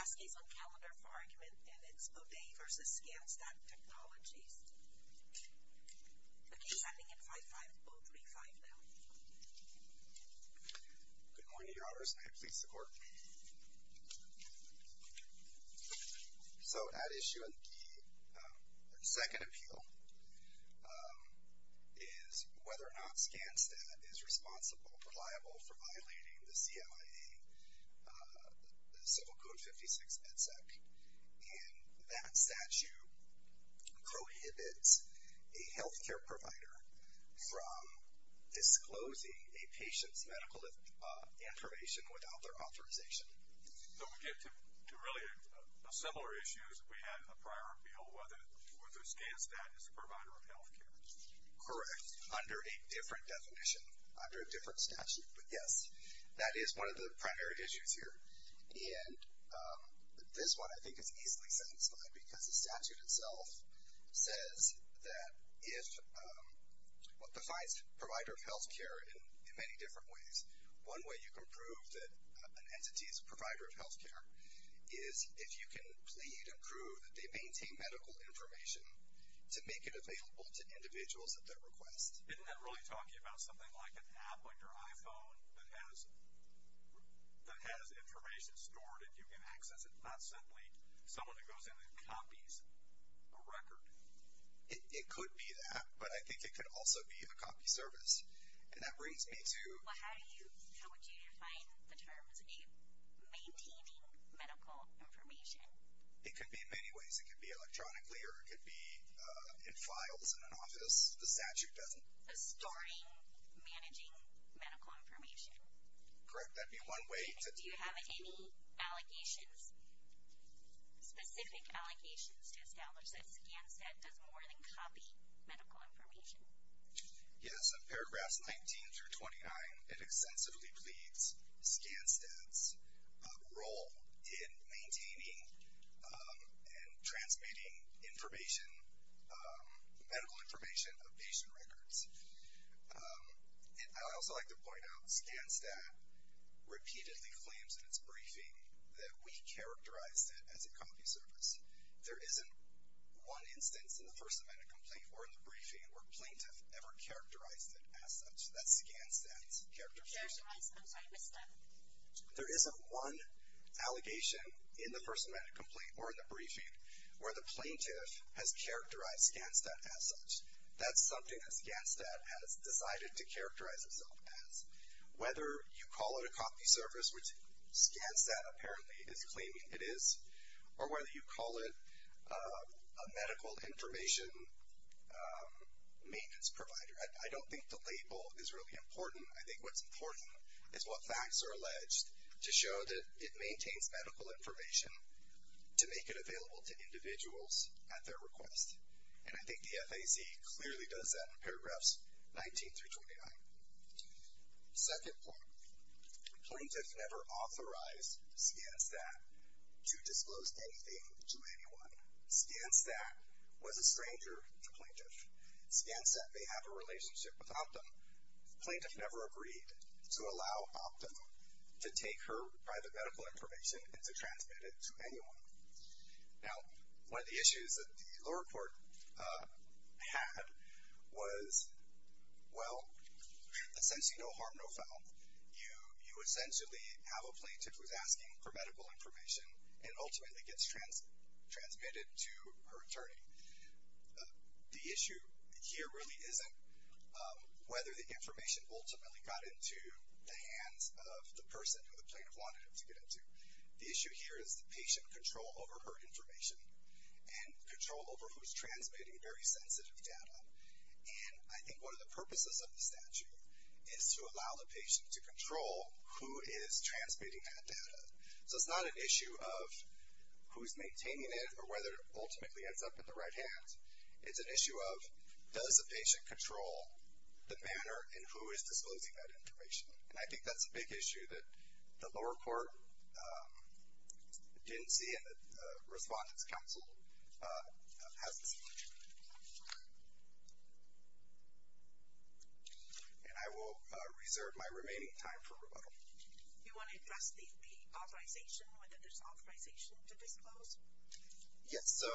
ASCII is on calendar for argument, and it's Oddei v. ScanSTAT Technologies. The case ending in 55035 now. Good morning, Your Honors. May it please the Court. So at issue in the second appeal is whether or not ScanSTAT is responsible, reliable for violating the Title VI MedSec, and that statute prohibits a health care provider from disclosing a patient's medical information without their authorization. So we get to really a similar issue as we had in the prior appeal, whether or not ScanSTAT is a provider of health care. Correct, under a different definition, under a different statute. But yes, that is one of the primary issues here. And this one, I think, is easily satisfying because the statute itself says that it defines provider of health care in many different ways. One way you can prove that an entity is a provider of health care is if you can plead and prove that they maintain medical information to make it available to individuals at their request. Isn't that really talking about something like an app on your iPhone that has information stored and you can access it? Not simply someone who goes in and copies a record. It could be that, but I think it could also be a copy service. And that brings me to... Well, how would you define the terms of maintaining medical information? It could be in many ways. A storing, managing medical information. Correct, that'd be one way to... Do you have any allegations, specific allegations to establish that ScanSTAT does more than copy medical information? Yes, in paragraphs 19 through 29, it extensively pleads ScanSTAT's role in maintaining and transmitting information, medical information of patient records. I'd also like to point out ScanSTAT repeatedly claims in its briefing that we characterized it as a copy service. There isn't one instance in the First Amendment complaint or in the briefing where plaintiff ever characterized it as such, that ScanSTAT's characterization. Characterized? I'm sorry, Mr. There isn't one allegation in the First Amendment complaint or in the briefing where the plaintiff has characterized ScanSTAT as such. That's something that ScanSTAT has decided to characterize itself as. Whether you call it a copy service, which ScanSTAT apparently is claiming it is, or whether you call it a medical information maintenance provider. I don't think the label is really important. I think what's important is what facts are alleged to show that it maintains medical information to make it available to individuals at their request. And I think the FAC clearly does that in paragraphs 19 through 29. Second point, plaintiff never authorized ScanSTAT to disclose anything to anyone. ScanSTAT was a stranger to plaintiff. ScanSTAT may have a relationship with Optum. Plaintiff never agreed to allow Optum to take her private medical information and to transmit it to anyone. Now, one of the issues that the lower court had was, well, essentially no harm, no foul. You essentially have a plaintiff who's asking for medical information and ultimately gets transmitted to her attorney. The issue here really isn't whether the information ultimately got into the hands of the person who the plaintiff wanted it to get into. The issue here is the patient control over her information and control over who's transmitting very sensitive data. And I think one of the purposes of the statute is to allow the patient to control who is transmitting that data. So it's not an issue of who's maintaining it or whether it ultimately ends up in the right hands. It's an issue of does the patient control the manner in who is disclosing that information. And I think that's a big issue that the lower court didn't see and the Respondents' Council hasn't seen. And I will reserve my remaining time for rebuttal. You want to address the authorization, whether there's authorization to disclose? Yes. So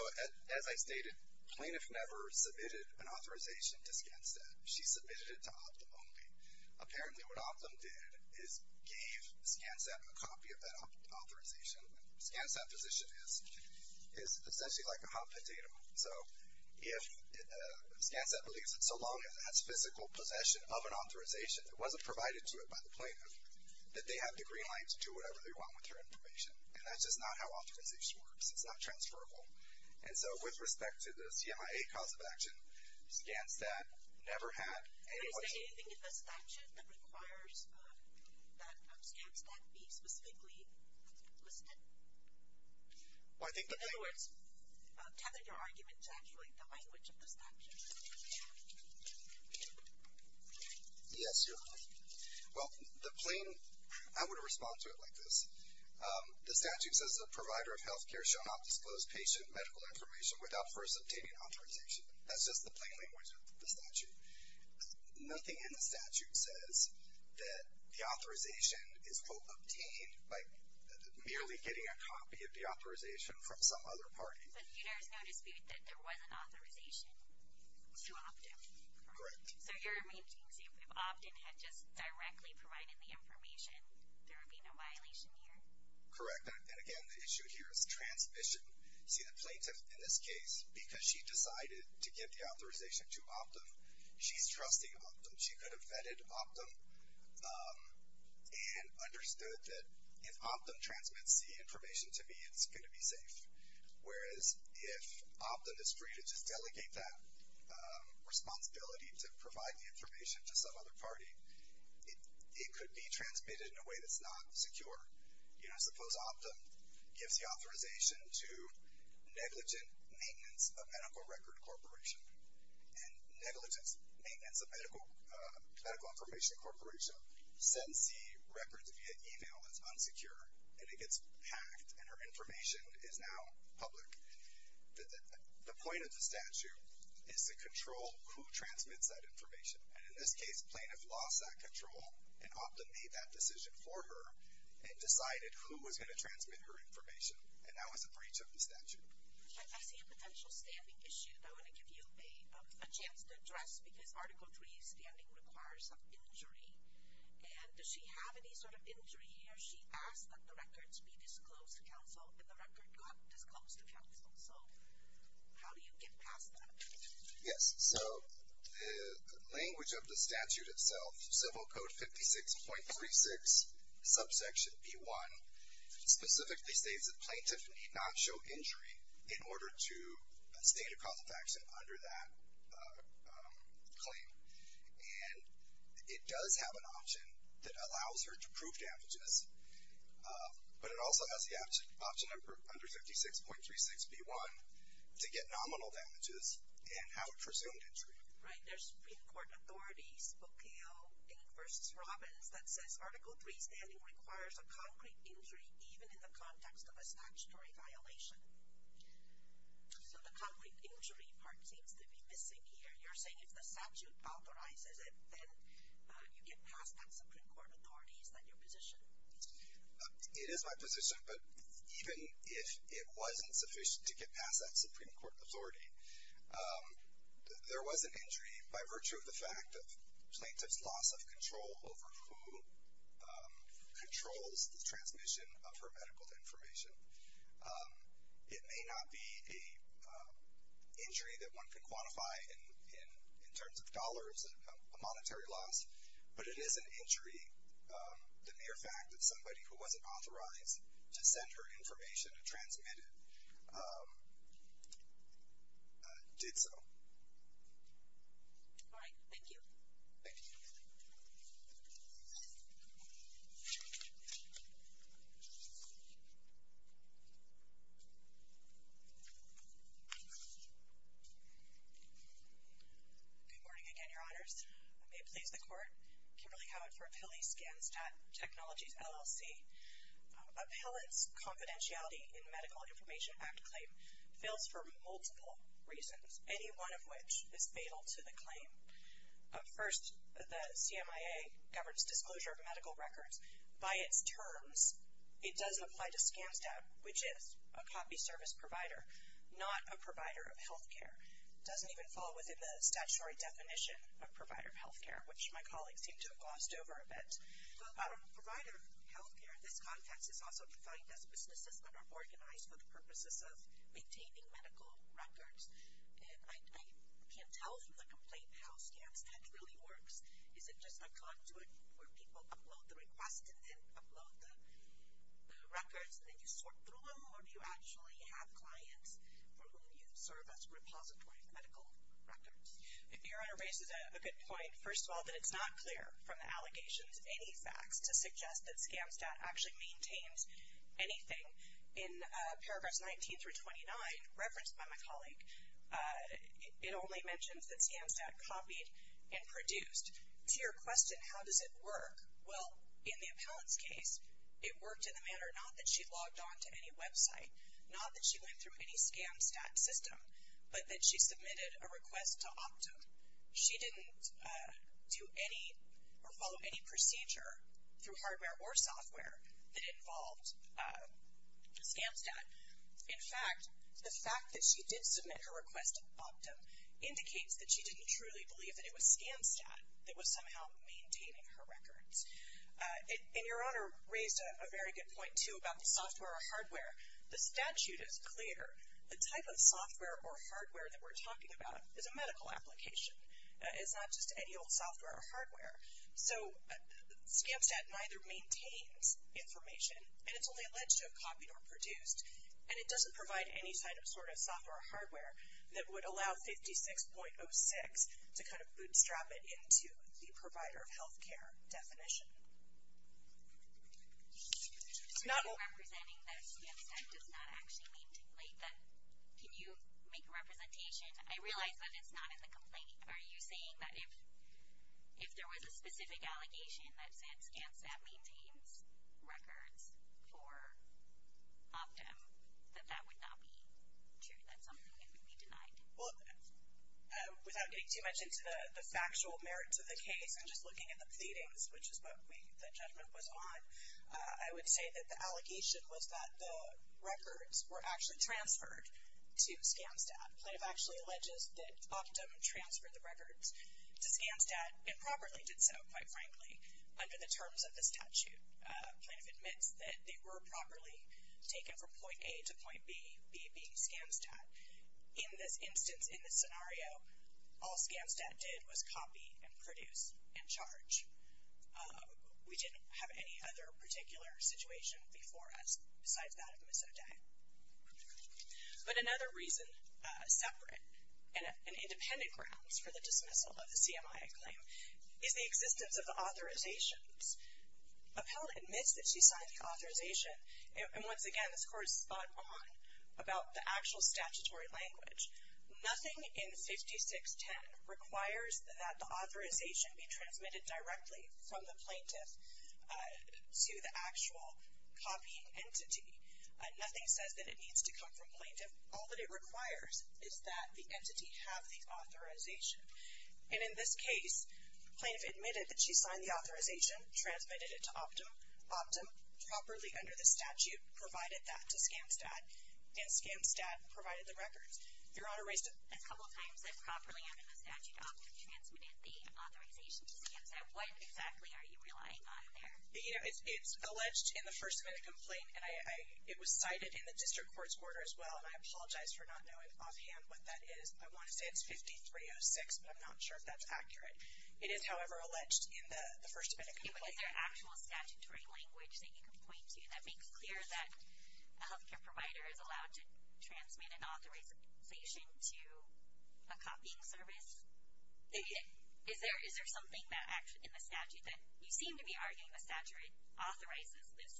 as I stated, plaintiff never submitted an authorization to ScanSTAT. She submitted it to Optum only. Apparently what Optum did is gave ScanSTAT a copy of that authorization. ScanSTAT position is essentially like a hot potato. So if ScanSTAT believes that so long as it has physical possession of an authorization that wasn't provided to it by the plaintiff, that they have the green light to do whatever they want with her information. And that's just not how authorization works. It's not transferable. And so with respect to the CMIA cause of action, ScanSTAT never had any. But is there anything in the statute that requires that ScanSTAT be specifically listed? In other words, tethered your argument to actually the language of the statute? Yes, Your Honor. Well, the plain, I would respond to it like this. The statute says a provider of healthcare shall not disclose patient medical information without first obtaining authorization. That's just the plain language of the statute. Nothing in the statute says that the authorization is, quote, obtained by merely getting a copy of the authorization from some other party. But there is no dispute that there was an authorization to Optum? Correct. So you're making, say, if Optum had just directly provided the information, there would be no violation here? Correct. And again, the issue here is transmission. See, the plaintiff, in this case, because she decided to give the authorization to Optum, she's trusting Optum. She could have vetted Optum and understood that if Optum transmits the information to me, it's going to be safe. Whereas if Optum is free to just delegate that responsibility to provide the information to some other party, it could be transmitted in a way that's not secure. You know, suppose Optum gives the authorization to negligent maintenance of medical record corporation. And negligent maintenance of medical information corporation sends the records via email. It's unsecure, and it gets hacked, and her information is now public. The point of the statute is to control who transmits that information. And in this case, plaintiff lost that control and Optum made that decision for her and decided who was going to transmit her information. And that was a breach of the statute. I see a potential standing issue that I want to give you a chance to address because Article 3 standing requires an injury. And does she have any sort of injury here? She asked that the records be disclosed to counsel, and the record got disclosed to counsel. So, how do you get past that? Yes. So, the language of the statute itself, Civil Code 56.36, Subsection B1, specifically states that plaintiff need not show injury in order to state a cause of action under that claim, and it does have an option that allows her to prove damages. But it also has the option under 56.36B1 to get nominal damages and have a presumed injury. Right. There's Supreme Court authorities, Bocale and versus Robbins that says Article 3 standing requires a concrete injury even in the context of a statutory violation. So, the concrete injury part seems to be missing here. You're saying if the statute authorizes it, then you get past that Supreme Court authorities, then you're positioned. It is my position, but even if it wasn't sufficient to get past that Supreme Court authority, there was an injury by virtue of the fact that plaintiff's loss of control over who controls the transmission of her medical information. It may not be a injury that one can quantify in terms of dollars, a monetary loss, but it is an injury, the mere fact that somebody who wasn't authorized to send her information, to transmit it, did so. All right. Thank you. Thank you. Good morning again, Your Honors. May it please the Court. Kimberly Coward for Pili, ScanStat Technologies, LLC. Appellant's confidentiality in the Medical Information Act claim fails for multiple reasons, any one of which is fatal to the claim. First, the CMIA governs disclosure of medical records. By its terms, it does apply to ScanStat, which is a copy service provider, not a provider of healthcare. It doesn't even fall within the statutory definition of provider of healthcare, which my colleagues seem to have glossed over a bit. But a provider of healthcare in this context is also defined as businesses that are organized for the purposes of maintaining medical records. I can't tell from the complaint how ScanStat really works. Is it just a conduit where people upload the request and then upload the records, and then you sort through them, or do you actually have clients for whom you serve as a repository of medical records? Your Honor raises a good point. First of all, that it's not clear from the allegations, any facts, to suggest that ScanStat actually maintains anything in paragraphs 19 through 29 referenced by my colleague. It only mentions that ScanStat copied and produced. To your question, how does it work, well, in the appellant's case, it worked in the manner, not that she logged on to any website, not that she went through any ScanStat system, but that she submitted a request to Optum. She didn't do any or follow any procedure through hardware or software that involved ScanStat. In fact, the fact that she did submit her request to Optum indicates that she didn't truly believe that it was ScanStat that was somehow maintaining her records. And your Honor raised a very good point, too, about the software or hardware. The statute is clear. The type of software or hardware that we're talking about is a medical application. It's not just any old software or hardware. So ScanStat neither maintains information, and it's only alleged to have copied or produced. And it doesn't provide any sort of software or hardware that would allow 56.06 to kind of bootstrap it into the provider of healthcare definition. Not all. Can you make a representation? I realize that it's not in the complaint. Are you saying that if there was a specific allegation that said ScanStat maintains records for Optum, that that would not be true, that something would be denied? Well, without getting too much into the factual merits of the case, and just looking at the pleadings, which is what the judgment was on, I would say that the allegation was that the records were actually transferred to ScanStat. Plaintiff actually alleges that Optum transferred the records to ScanStat, and properly did so, quite frankly, under the terms of the statute. Plaintiff admits that they were properly taken from point A to point B, B being ScanStat. In this instance, in this scenario, all ScanStat did was copy and produce. And charge. We didn't have any other particular situation before us, besides that of Miss O'Day. But another reason, separate and independent grounds for the dismissal of the CMIA claim, is the existence of the authorizations. Appellant admits that she signed the authorization, and once again, this court is spot on about the actual statutory language. Nothing in 5610 requires that the authorization be transmitted directly from the plaintiff to the actual copying entity. Nothing says that it needs to come from plaintiff. All that it requires is that the entity have the authorization. And in this case, plaintiff admitted that she signed the authorization, transmitted it to Optum. Optum, properly under the statute, provided that to ScanStat, and ScanStat provided the records. Your Honor, raised a couple of times that properly under the statute, Optum transmitted the authorization to ScanStat, what exactly are you relying on there? You know, it's alleged in the first amendment complaint, and it was cited in the district court's order as well, and I apologize for not knowing offhand what that is. I want to say it's 5306, but I'm not sure if that's accurate. It is, however, alleged in the first amendment complaint. Is there actual statutory language that you can point to that makes clear that a healthcare provider is allowed to transmit an authorization to a copying service? Is there something that actually, in the statute, that you seem to be arguing the statute authorizes this?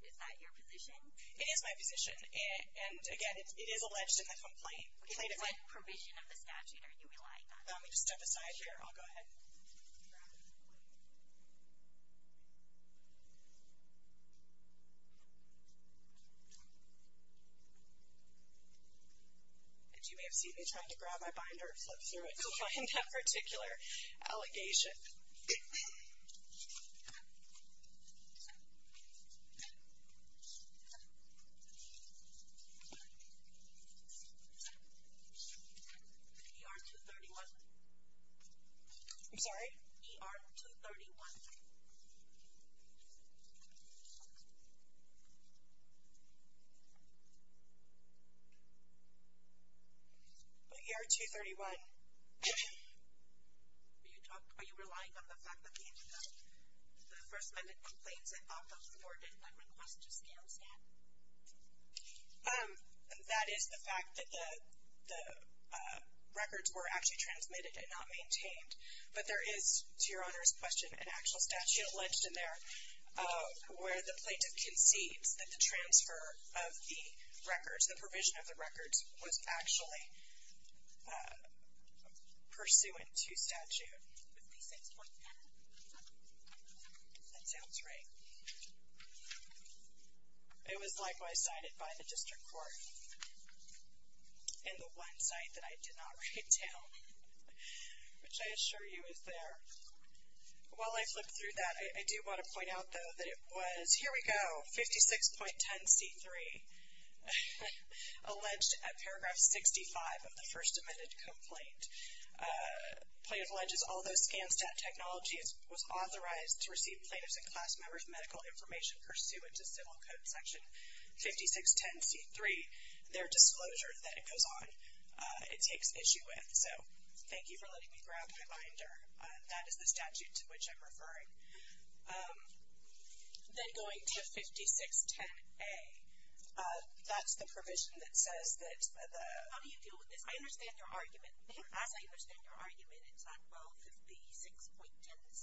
Is that your position? It is my position, and again, it is alleged in the complaint. Okay, what provision of the statute are you relying on? Let me just step aside here. I'll go ahead. And you may have seen me trying to grab my binder and flip through it to find that particular allegation. ER 231. I'm sorry, ER 231. ER 231, are you relying on the fact that the first amendment complaints, I thought those were awarded by request to SCAMS, yeah? That is the fact that the records were actually transmitted and not maintained, but there is, to your Honor's question, an actual statute alleged in there where the plaintiff conceives that the transfer of the records, the provision of the records, was actually pursuant to statute. With the 6.10? That sounds right. It was likewise cited by the district court in the one site that I did not write down, which I assure you is there. While I flip through that, I do want to point out, though, that it was, here we go, 56.10c3. Alleged at paragraph 65 of the first amendment complaint. Plaintiff alleges although SCAMSTAT technology was authorized to receive plaintiffs and class members medical information pursuant to civil code section 56.10c3, their disclosure that it goes on, it takes issue with. So, thank you for letting me grab my binder. That is the statute to which I'm referring. Then going to 56.10a, that's the provision that says that the. How do you deal with this? I understand your argument. As I understand your argument, it's not well if the 6.10c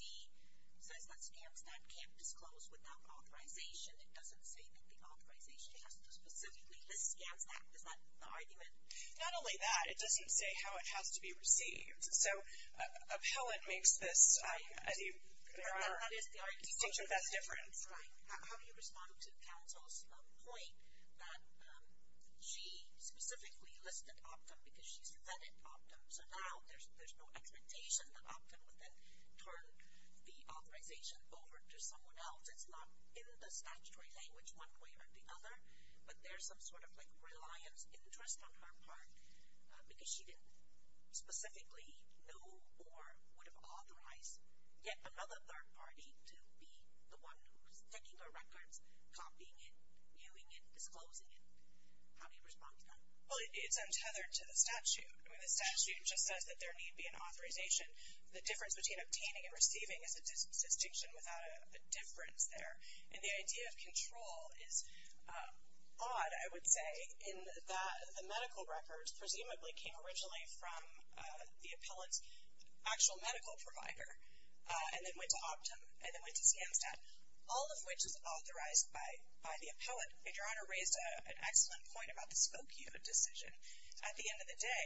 says that SCAMSTAT can't disclose without authorization. It doesn't say that the authorization has to specifically list SCAMSTAT. Is that the argument? Not only that, it doesn't say how it has to be received. So, how it makes this, as you. That is the argument. The distinction that's different. Right. How do you respond to counsel's point that she specifically listed Optum because she's vetted Optum, so now there's no expectation that Optum would then turn the authorization over to someone else. It's not in the statutory language one way or the other, but there's some sort of reliance, interest on her part because she didn't specifically know or would have authorized yet another third party to be the one who's taking her records, copying it, viewing it, disclosing it. How do you respond to that? Well, it's untethered to the statute. I mean, the statute just says that there need be an authorization. The difference between obtaining and receiving is a distinction without a difference there. And the idea of control is odd, I would say, in that the medical records presumably came originally from the appellant's actual medical provider and then went to Optum and then went to ScanStat, all of which is authorized by the appellant. And Your Honor raised an excellent point about the SpokeU decision. At the end of the day,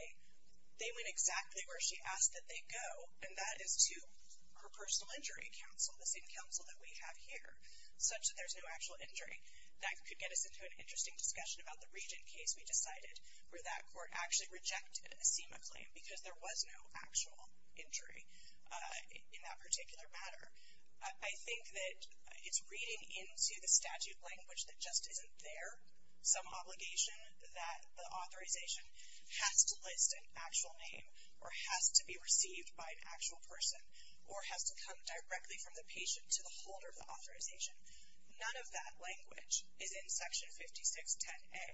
they went exactly where she asked that they go and that is to her personal injury counsel, the same counsel that we have here, such that there's no actual injury. That could get us into an interesting discussion about the Regent case we decided where that court actually rejected a SEMA claim because there was no actual injury in that particular matter. I think that it's reading into the statute language that just isn't there some obligation that the authorization has to list an actual name or has to be received by an actual person or has to come directly from the patient to the holder of the authorization. None of that language is in Section 5610A.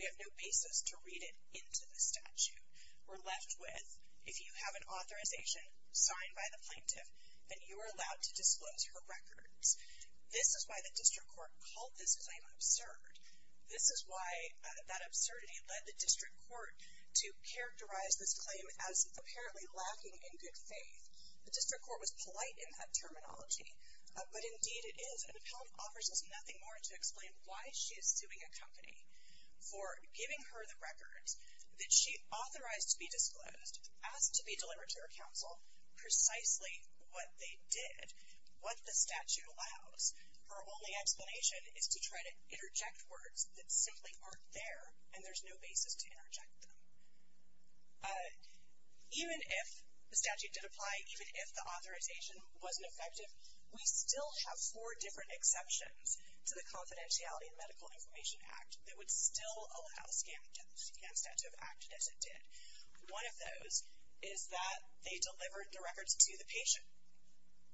We have no basis to read it into the statute. We're left with, if you have an authorization signed by the plaintiff, then you are allowed to disclose her records. This is why the district court called this claim absurd. This is why that absurdity led the district court to characterize this claim as apparently lacking in good faith. The district court was polite in that terminology, but indeed it is. An appellant offers us nothing more to explain why she is suing a company for giving her the records that she authorized to be disclosed, asked to be delivered to her counsel, precisely what they did, what the statute allows. Her only explanation is to try to interject words that simply aren't there and there's no basis to interject them. Even if the statute did apply, even if the authorization wasn't effective, we still have four different exceptions to the Confidentiality and Medical Information Act that would still allow the statute to have acted as it did. One of those is that they delivered the records to the patient,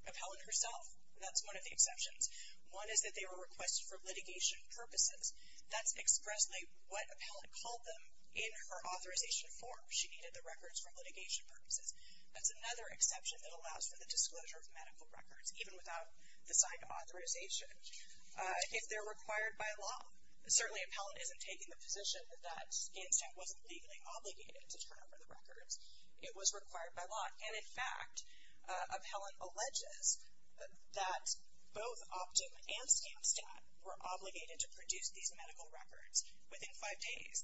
appellant herself. That's one of the exceptions. One is that they were requested for litigation purposes. That's expressly what appellant called them in her authorization form. She needed the records for litigation purposes. That's another exception that allows for the disclosure of medical records, even without the sign of authorization, if they're required by law. Certainly appellant isn't taking the position that Gainstead wasn't legally obligated to turn over the records. It was required by law. And in fact, appellant alleges that both Optum and Gainstead were obligated to produce these medical records within five days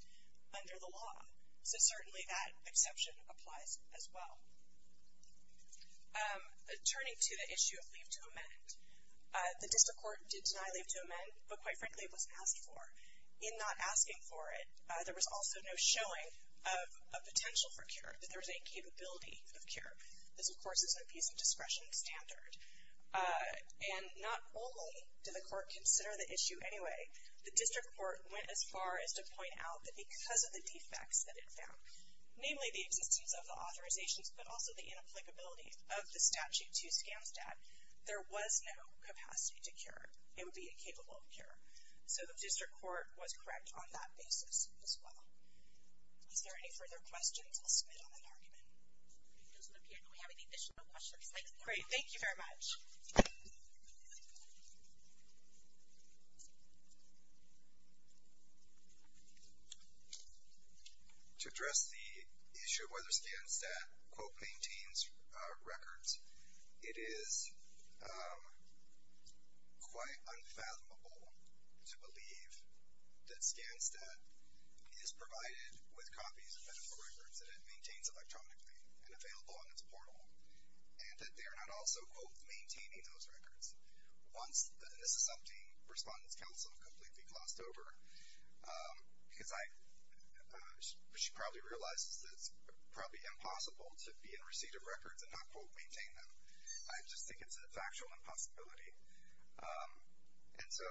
under the law. So certainly that exception applies as well. Turning to the issue of leave to amend, the district court did deny leave to amend, but quite frankly it was asked for. In not asking for it, there was also no showing of a potential for cure, that there was a capability of cure. This of course is an abuse of discretion standard. And not only did the court consider the issue anyway, the district court went as far as to point out that because of the defects that it found, namely the existence of the authorizations, but also the inapplicability of the statute to Gainstead, there was no capacity to cure, it would be incapable of cure. So the district court was correct on that basis as well. Is there any further questions? I'll submit on that argument. We can go to the piano. We have any additional questions. Great. Thank you very much. To address the issue of whether ScanStat, quote, maintains records, it is quite unfathomable to believe that ScanStat is provided with copies of medical records that it maintains electronically and available on its portal. And that they're not also, quote, maintaining those records. Once, and this is something Respondent's Counsel completely glossed over, because she probably realizes that it's probably impossible to be in receipt of records and not, quote, maintain them. I just think it's a factual impossibility. And so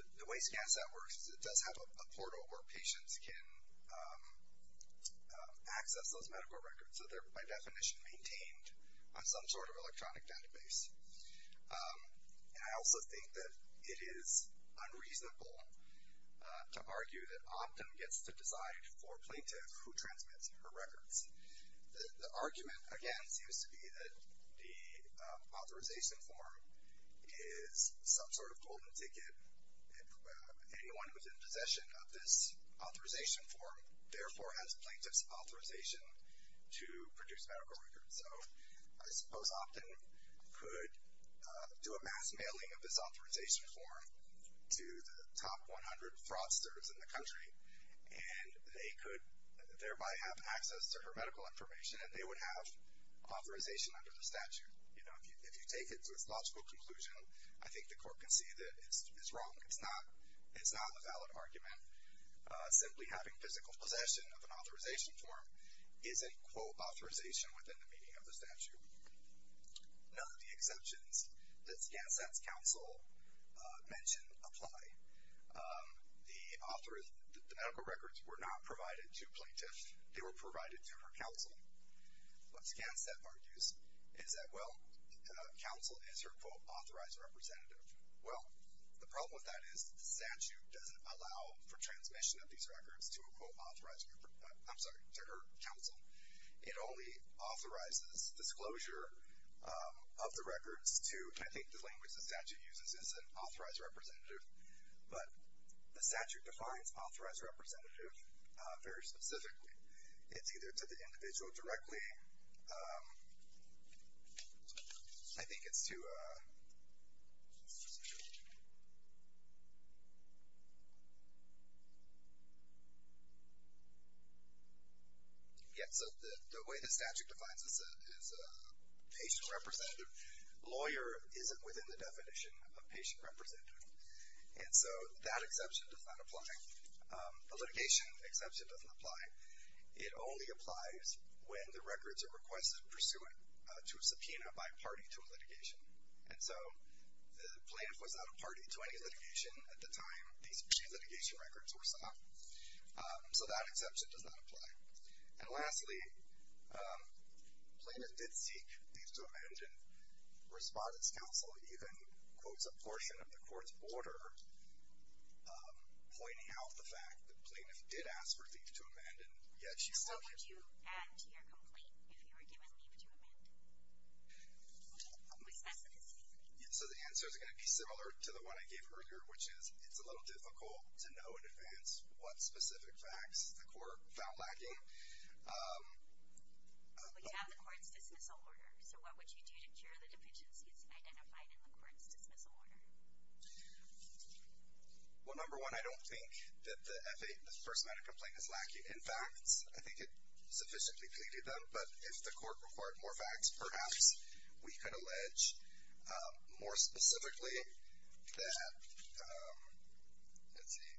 the way ScanStat works is it does have a portal where patients can access those medical records. So they're, by definition, maintained on some sort of electronic database. And I also think that it is unreasonable to argue that Optum gets to decide for a plaintiff who transmits her records. The argument, again, seems to be that the authorization form is some sort of golden ticket. Anyone who's in possession of this authorization form, therefore has plaintiff's authorization to produce medical records. So I suppose Optum could do a mass mailing of this authorization form to the top 100 fraudsters in the country, and they could thereby have access to her medical information. And they would have authorization under the statute. You know, if you take it to its logical conclusion, I think the court can see that it's wrong. It's not a valid argument. Simply having physical possession of an authorization form isn't, quote, authorization within the meaning of the statute. None of the exceptions that ScanStat's Counsel mentioned apply. The medical records were not provided to plaintiffs. They were provided to her counsel. What ScanStat argues is that, well, counsel is her, quote, authorized representative. Well, the problem with that is the statute doesn't allow for transmission of these records to a, quote, authorized, I'm sorry, to her counsel. It only authorizes disclosure of the records to, I think the language the statute uses is an authorized representative. But the statute defines authorized representative very specifically. It's either to the individual directly. I think it's to, yeah, so the way the statute defines this is patient representative, lawyer isn't within the definition of patient representative. And so that exception does not apply. The litigation exception doesn't apply. It only applies when the records are requested pursuant to a subpoena by a party to a litigation. And so the plaintiff was not a party to any litigation at the time these two litigation records were sought. So that exception does not apply. And lastly, plaintiff did seek thief to amend and respondent's counsel even quotes a portion of the court's order pointing out the fact that plaintiff did ask for thief to amend and yet she still didn't. So what would you add to your complaint if you were given thief to amend? Was that the decision? Yeah, so the answer is going to be similar to the one I gave earlier, which is it's a little difficult to know in advance what specific facts the court found to be lacking. We have the court's dismissal order. So what would you do to ensure the deficiency is identified in the court's dismissal order? Well, number one, I don't think that the F-8, the First Amendment complaint is lacking in facts. I think it sufficiently pleaded them. But if the court required more facts, perhaps we could allege more specifically that, let's see,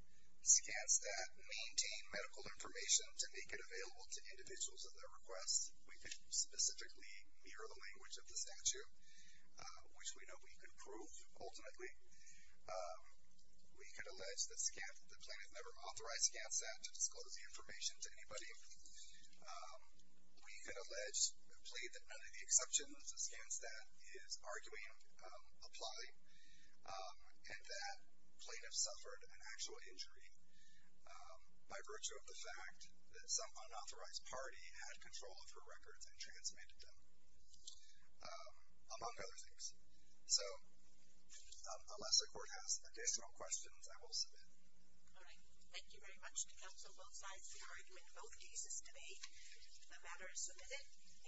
Skanstat maintained medical information to make it available to individuals at their request. We could specifically mirror the language of the statute, which we know we could prove ultimately. We could allege that Skanstat, the plaintiff never authorized Skanstat to disclose the information to anybody. We could allege, plead that none of the exceptions of Skanstat is arguing apply, and that plaintiffs suffered an actual injury by virtue of the fact that some unauthorized party had control of her records and transmitted them, among other things. So unless the court has additional questions, I will submit. All right. Thank you very much to counsel both sides for your argument in both cases today. The matter is submitted. And the jury is adjourned.